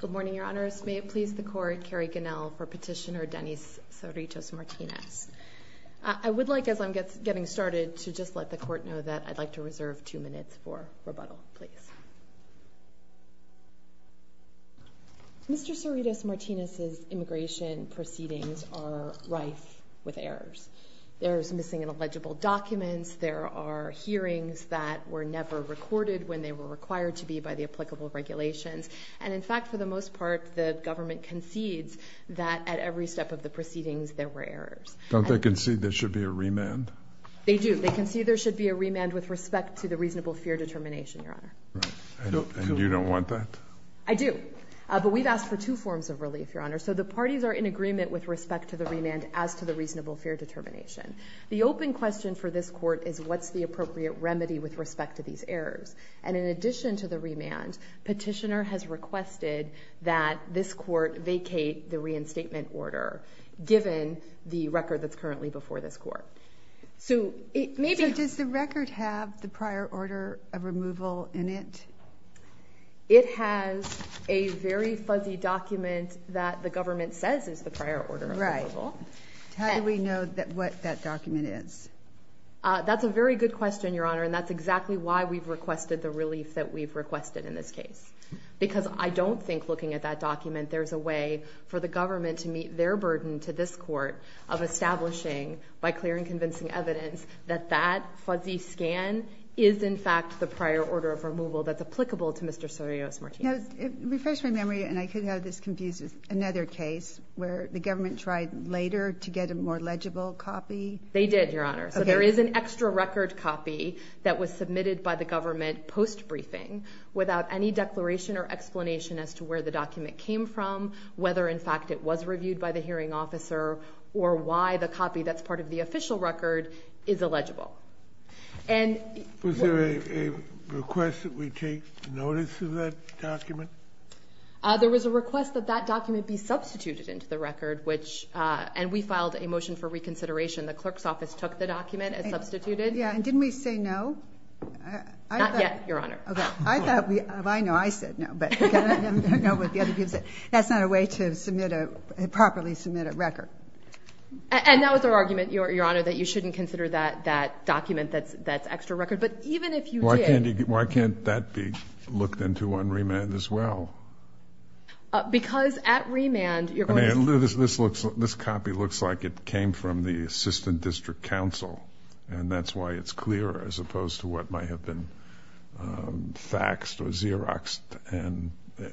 Good morning, Your Honors. May it please the Court, Carrie Ganell for Petitioner Denys Cerritos Martinez. I would like, as I'm getting started, to just let the Court know that I'd like to reserve two minutes for rebuttal, please. Mr. Cerritos Martinez's immigration proceedings are rife with errors. There's missing and illegible documents, there are recorded when they were required to be by the applicable regulations, and in fact, for the most part, the government concedes that at every step of the proceedings there were errors. Don't they concede there should be a remand? They do. They concede there should be a remand with respect to the reasonable fear determination, Your Honor. And you don't want that? I do. But we've asked for two forms of relief, Your Honor. So the parties are in agreement with respect to the remand as to the reasonable fear determination. The open question for this Court is what's the appropriate remedy with respect to these errors? And in addition to the remand, Petitioner has requested that this Court vacate the reinstatement order, given the record that's currently before this Court. So it may be— So does the record have the prior order of removal in it? It has a very fuzzy document that the government says is the prior order of removal. How do we know what that document is? That's a very good question, Your Honor, and that's exactly why we've requested the relief that we've requested in this case. Because I don't think, looking at that document, there's a way for the government to meet their burden to this Court of establishing, by clear and convincing evidence, that that fuzzy scan is, in fact, the prior order of removal that's applicable to Mr. Surios-Martinez. It refreshes my memory, and I could have this confused with another case where the government tried later to get a more legible copy. They did, Your Honor. So there is an extra record copy that was submitted by the government post-briefing without any declaration or explanation as to where the document came from, whether in fact it was reviewed by the hearing officer, or why the copy that's part of the official record is illegible. And— Was there a request that we take notice of that document? There was a request that that document be substituted into the record, which—and we filed a motion for reconsideration. The clerk's office took the document and substituted it. Yeah, and didn't we say no? Not yet, Your Honor. Okay. I thought we—I know I said no, but I don't know what the other people said. That's not a way to submit a—properly submit a record. And that was our argument, Your Honor, that you shouldn't consider that document that's extra record. But even if you did— Why can't you—why can't that be looked into on remand as well? Because at remand, you're going to— I mean, this looks—this copy looks like it came from the assistant district counsel, and that's why it's clear as opposed to what might have been faxed or Xeroxed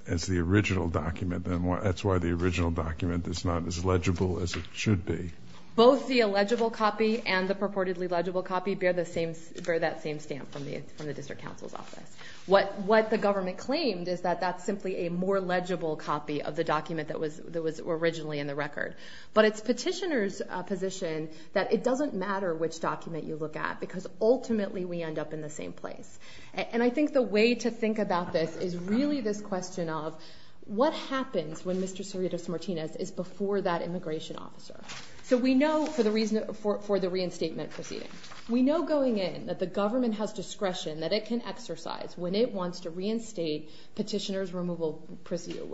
as the original document. That's why the original document is not as legible as it should be. Both the illegible copy and the purportedly legible copy bear the same—bear that same stamp from the district counsel's office. What the government claimed is that that's simply a more legible copy of the document that was originally in the record. But it's petitioner's position that it doesn't matter which document you look at, because ultimately we end up in the same place. And I think the way to think about this is really this question of what happens when Mr. Cerritos-Martinez is before that immigration officer? So we know, for the reason—for the reinstatement proceeding, we know going in that the government has discretion that it can exercise when it wants to reinstate petitioner's removal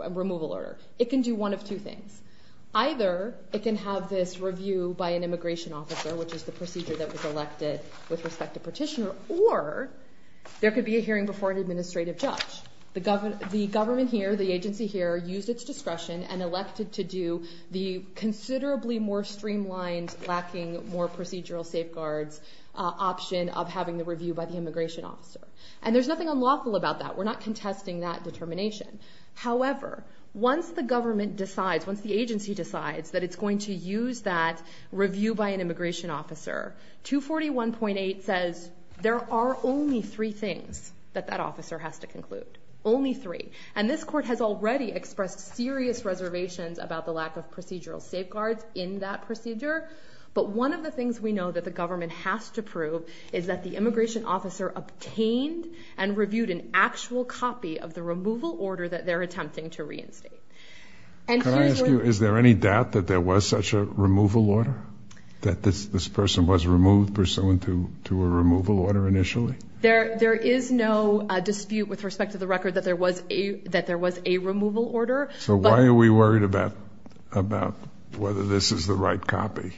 order. It can do one of two things. Either it can have this review by an immigration officer, which is the procedure that was elected with respect to petitioner, or there could be a hearing before an administrative judge. The government here, the agency here, used its discretion and elected to do the considerably more streamlined, lacking more procedural safeguards option of having the review by the immigration officer. And there's nothing unlawful about that. We're not contesting that determination. However, once the government decides, once the agency decides that it's going to use that review by an immigration officer, 241.8 says there are only three things that that officer has to conclude. Only three. And this court has already expressed serious reservations about the lack of procedural safeguards. What the government has to prove is that the immigration officer obtained and reviewed an actual copy of the removal order that they're attempting to reinstate. Can I ask you, is there any doubt that there was such a removal order? That this person was removed pursuant to a removal order initially? There is no dispute with respect to the record that there was a—that there was a removal order. So why are we worried about—about whether this is the right copy?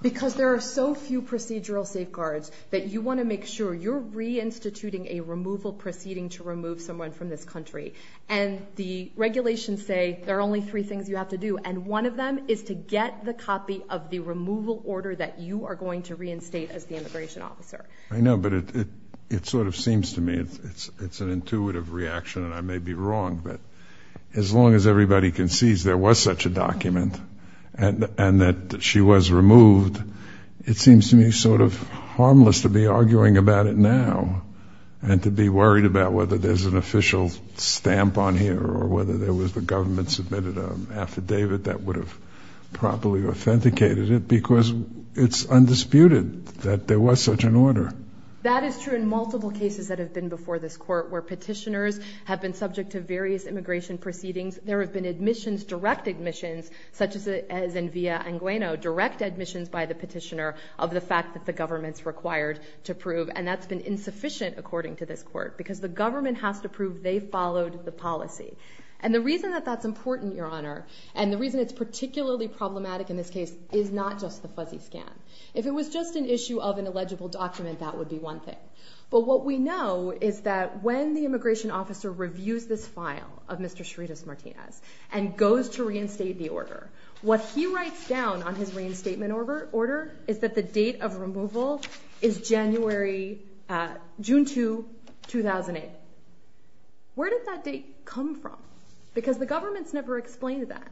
Because there are so few procedural safeguards that you want to make sure you're reinstituting a removal proceeding to remove someone from this country. And the regulations say there are only three things you have to do, and one of them is to get the copy of the removal order that you are going to reinstate as the immigration officer. I know, but it—it sort of seems to me it's—it's an intuitive reaction, and I may be wrong, but as long as everybody concedes there was such a document and—and that she was removed, it seems to me sort of harmless to be arguing about it now and to be worried about whether there's an official stamp on here or whether there was the government submitted an affidavit that would have properly authenticated it because it's undisputed that there was such an order. That is true in multiple cases that have been before this Court where petitioners have been subject to various immigration proceedings. There have been admissions, direct admissions, such as in Villa-Angueno, direct admissions by the petitioner of the fact that the government's required to prove, and that's been insufficient according to this Court because the government has to prove they followed the policy. And the reason that that's important, Your Honor, and the reason it's particularly problematic in this case is not just the fuzzy scan. If it was just an issue of an illegible document, that would be one thing. But what we know is that when the immigration officer reviews this file of Mr. Chirides Martinez and goes to reinstate the order, what he writes down on his reinstatement order is that the date of removal is January—June 2, 2008. Where did that date come from? Because the government's never explained that.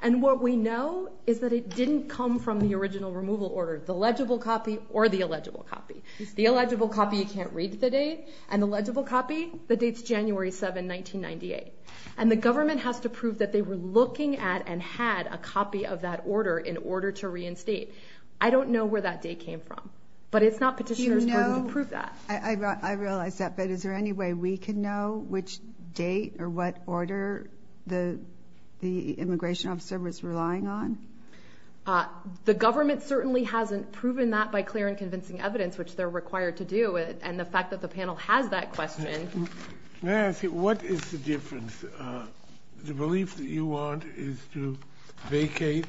And what we know is that it didn't come from the original removal order, the legible copy or the illegible copy. The illegible copy, you can't read the date, and the legible copy, the date's January 7, 1998. And the government has to prove that they were looking at and had a copy of that order in order to reinstate. I don't know where that date came from. But it's not petitioner's fault to prove that. I realize that, but is there any way we can know which date or what order the immigration officer was relying on? The government certainly hasn't proven that by clear and convincing evidence, which they're not going to prove. But the government still has that question. May I ask you, what is the difference? The belief that you want is to vacate,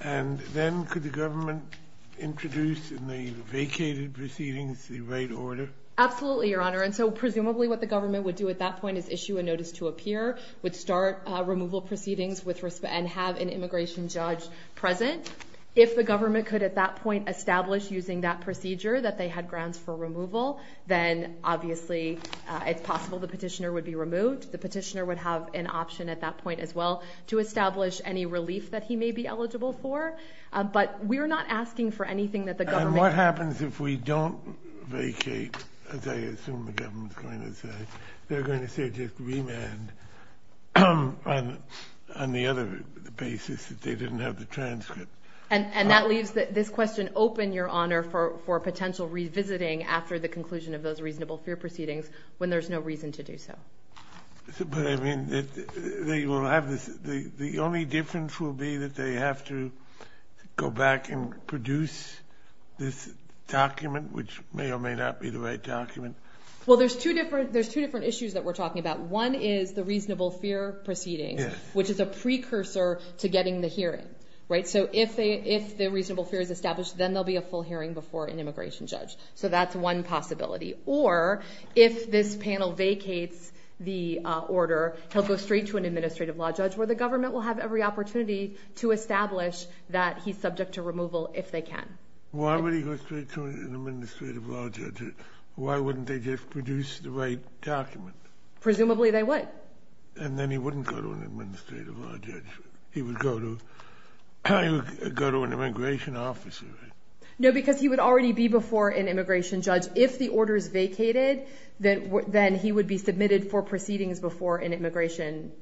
and then could the government introduce in the vacated proceedings the right order? Absolutely, Your Honor. And so presumably what the government would do at that point is issue a notice to a peer, would start removal proceedings and have an immigration judge present. If the government could at that point establish using that procedure that they had for transfer removal, then obviously it's possible the petitioner would be removed. The petitioner would have an option at that point as well to establish any relief that he may be eligible for. But we're not asking for anything that the government... And what happens if we don't vacate, as I assume the government's going to say? They're going to say just remand on the other basis that they didn't have the transcript. And that leaves this question open, Your Honor, for potential revisiting after the conclusion of those reasonable fear proceedings when there's no reason to do so. But I mean, the only difference will be that they have to go back and produce this document, which may or may not be the right document. Well, there's two different issues that we're talking about. One is the reasonable fear proceedings, which is a precursor to getting the hearing. So if the reasonable fear is established, then there'll be a full hearing before an immigration judge. So that's one possibility. Or if this panel vacates the order, he'll go straight to an administrative law judge where the government will have every opportunity to establish that he's subject to removal if they can. Why would he go straight to an administrative law judge? Why wouldn't they just produce the right document? Presumably they would. And then he wouldn't go to an administrative law judge. He would go to an immigration officer, right? No, because he would already be before an immigration judge. If the order is vacated, then he would be submitted for proceedings before an immigration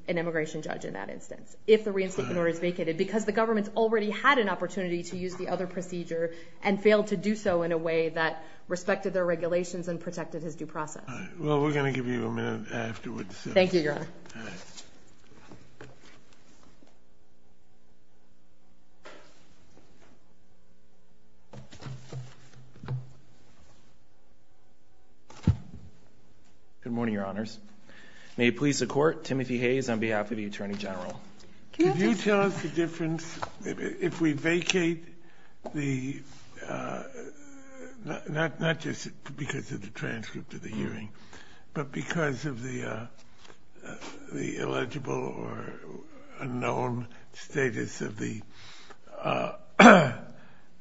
judge in that instance, if the reinstatement order is vacated, because the government's already had an opportunity to use the other procedure and failed to do so in a way that respected their regulations and protected his due process. Well, we're going to give you a minute afterwards. Thank you, Your Honor. Good morning, Your Honors. May it please the Court, Timothy Hayes on behalf of the Attorney General. Can you tell us the difference, if we vacate, not just because of the transcript of the hearing, but because of the illegible or unknown status of the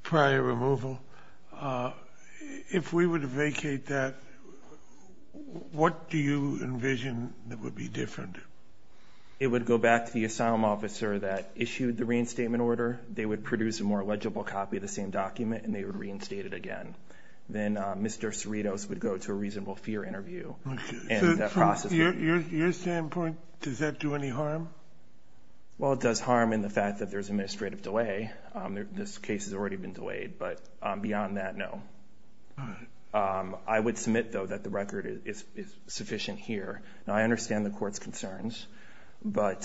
prior removal, if we were to vacate that, what do you envision that would be different? It would go back to the asylum officer that issued the reinstatement order. They would produce a more legible copy of the same document, and they would reinstate it again. Then Mr. Cerritos would go to a reasonable fear interview. From your standpoint, does that do any harm? Well, it does harm in the fact that there's administrative delay. This case has already been delayed, but beyond that, no. I would submit, though, that the record is sufficient here. Now, I understand the Court's concerns, but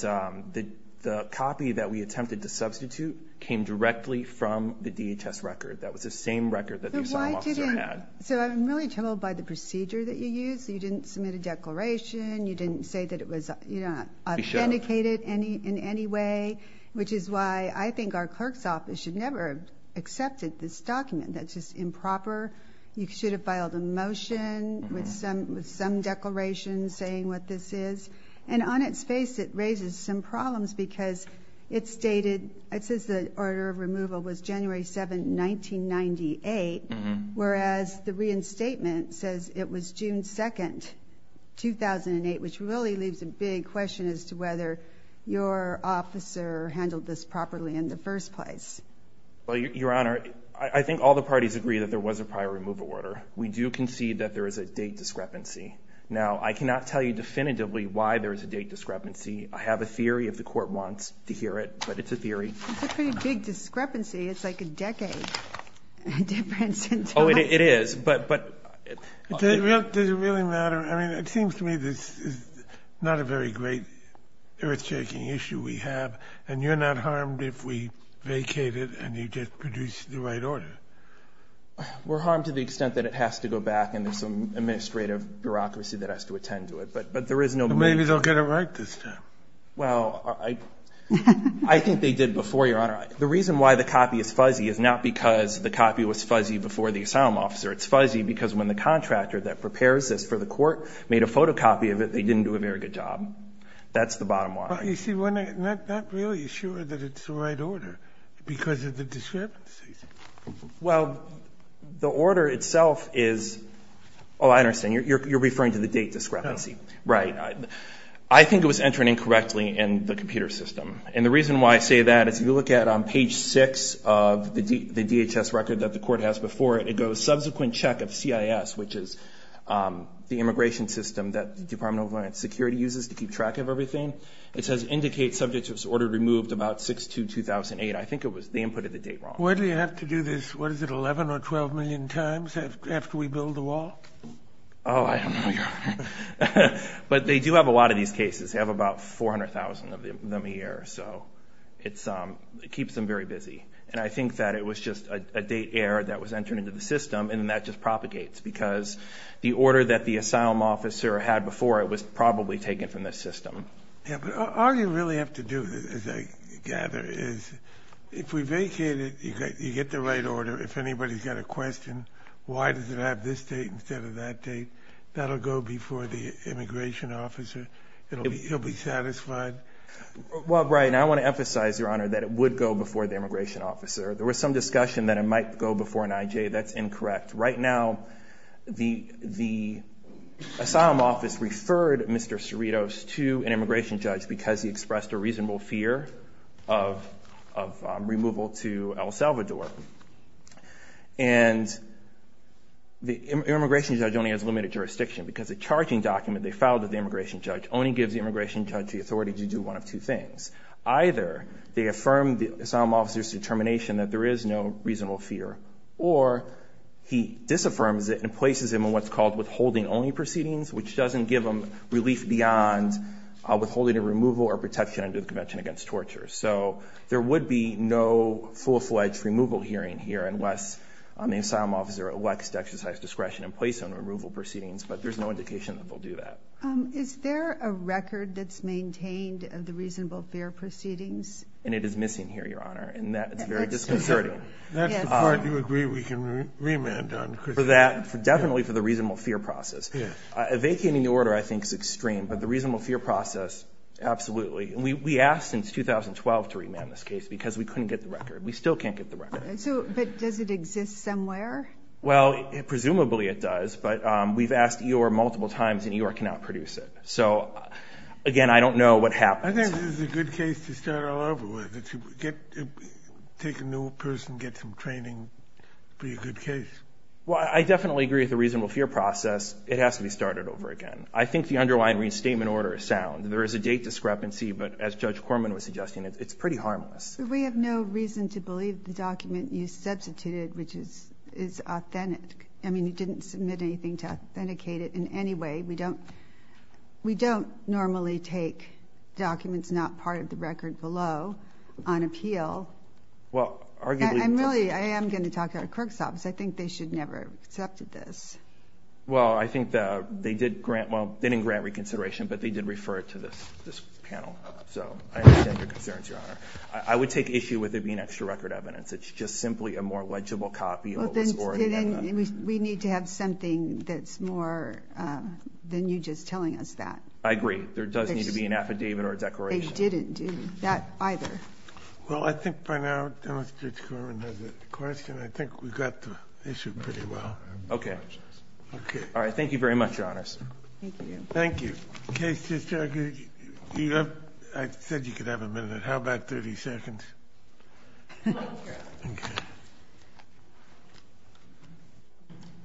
the copy that we attempted to substitute came directly from the DHS record. That was the same record that the asylum officer had. So I'm really troubled by the procedure that you used. You didn't submit a declaration. You didn't say that it was authenticated in any way, which is why I think our clerk's office should never have accepted this document. That's just improper. You should have filed a motion with some declaration saying what this is. And on its face, it raises some problems because it says the order of removal was January 7, 1998, whereas the reinstatement says it was June 2, 2008, which really leaves a big question as to whether your officer handled this properly in the first place. Well, Your Honor, I think all the parties agree that there was a prior removal order. We do concede that there is a date discrepancy. Now, I cannot tell you definitively why there is a date discrepancy. I have a theory if the Court wants to hear it, but it's a theory. It's a pretty big discrepancy. It's like a decade difference. Oh, it is. But does it really matter? I mean, it seems to me this is not a very great, earth-shaking issue we have, and you're not harmed if we vacate it and you just produce the right order. We're harmed to the extent that it has to go back, and there's some administrative bureaucracy that has to attend to it. But there is no need. Maybe they'll get it right this time. Well, I think they did before, Your Honor. The reason why the copy is fuzzy is not because the copy was fuzzy before the asylum officer. It's fuzzy because when the contractor that prepares this for the Court made a photocopy of it, they didn't do a very good job. That's the bottom line. You see, we're not really sure that it's the right order because of the discrepancies. Well, the order itself is – oh, I understand. You're referring to the date discrepancy. Right. I think it was entered incorrectly in the computer system. And the reason why I say that is if you look at page 6 of the DHS record that the Court has before it, it goes subsequent check of CIS, which is the immigration system that the Department of Homeland Security uses to keep track of everything. It says indicate subject who was ordered removed about 6-2-2008. I think it was the input of the date wrong. Why do you have to do this, what is it, 11 or 12 million times after we build the wall? Oh, I don't know, Your Honor. But they do have a lot of these cases. They have about 400,000 of them a year. So it keeps them very busy. And I think that it was just a date error that was entered into the system, and then that just propagates because the order that the asylum officer had before it was probably taken from the system. Yeah, but all you really have to do, as I gather, is if we vacate it, you get the right order. If anybody's got a question, why does it have this date instead of that date, that will go before the immigration officer. He'll be satisfied. Well, Brian, I want to emphasize, Your Honor, that it would go before the immigration officer. There was some discussion that it might go before an IJ. That's incorrect. Right now, the asylum office referred Mr. Cerritos to an immigration judge because he expressed a reasonable fear of removal to El Salvador. And the immigration judge only has limited jurisdiction because the charging document they filed with the immigration judge only gives the immigration judge the authority to do one of two things. Either they affirm the asylum officer's determination that there is no reasonable fear, or he disaffirms it and places him in what's called withholding only proceedings, which doesn't give him relief beyond withholding a removal or protection under the Convention Against Torture. So there would be no full-fledged removal hearing here unless the asylum officer elects to exercise discretion and place him in removal proceedings, but there's no indication that they'll do that. Is there a record that's maintained of the reasonable fear proceedings? And it is missing here, Your Honor, and that is very disconcerting. That's the part you agree we can remand on. For that, definitely for the reasonable fear process. Yes. Evacuating the order, I think, is extreme, but the reasonable fear process, absolutely. And we asked since 2012 to remand this case because we couldn't get the record. We still can't get the record. But does it exist somewhere? Well, presumably it does, but we've asked EOIR multiple times and EOIR cannot produce it. So, again, I don't know what happens. I think this is a good case to start all over with. Take a new person, get some training, be a good case. Well, I definitely agree with the reasonable fear process. It has to be started over again. I think the underlying restatement order is sound. There is a date discrepancy, but as Judge Corman was suggesting, it's pretty harmless. We have no reason to believe the document you substituted, which is authentic. I mean, you didn't submit anything to authenticate it in any way. We don't normally take documents not part of the record below on appeal. I am going to talk to our clerk's office. I think they should never have accepted this. Well, I think they didn't grant reconsideration, but they did refer it to this panel. So I understand your concerns, Your Honor. I would take issue with it being extra record evidence. It's just simply a more legible copy of what was already in there. We need to have something that's more than you just telling us that. I agree. There does need to be an affidavit or a declaration. They didn't do that either. Well, I think by now Judge Corman has a question. I think we got the issue pretty well. Okay. All right. Thank you very much, Your Honor. Thank you. Thank you. Okay, Sister, I said you could have a minute. How about 30 seconds? Okay.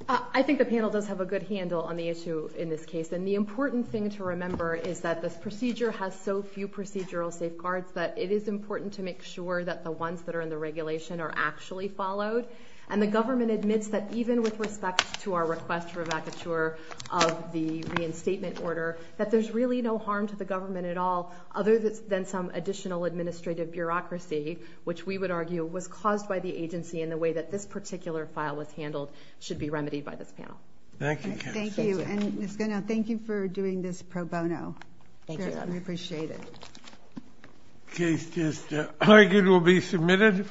I think the panel does have a good handle on the issue in this case. And the important thing to remember is that this procedure has so few procedural safeguards that it is important to make sure that the ones that are in the regulation are actually followed. And the government admits that even with respect to our request for a vacature of the reinstatement order, that there's really no harm to the government at all, other than some additional administrative bureaucracy, which we would argue was caused by the agency and the way that this particular file was handled should be remedied by this panel. Thank you, Counsel. Thank you. And, Ms. Gunnell, thank you for doing this pro bono. Thank you, Your Honor. We appreciate it. Okay, Sister. I think it will be submitted.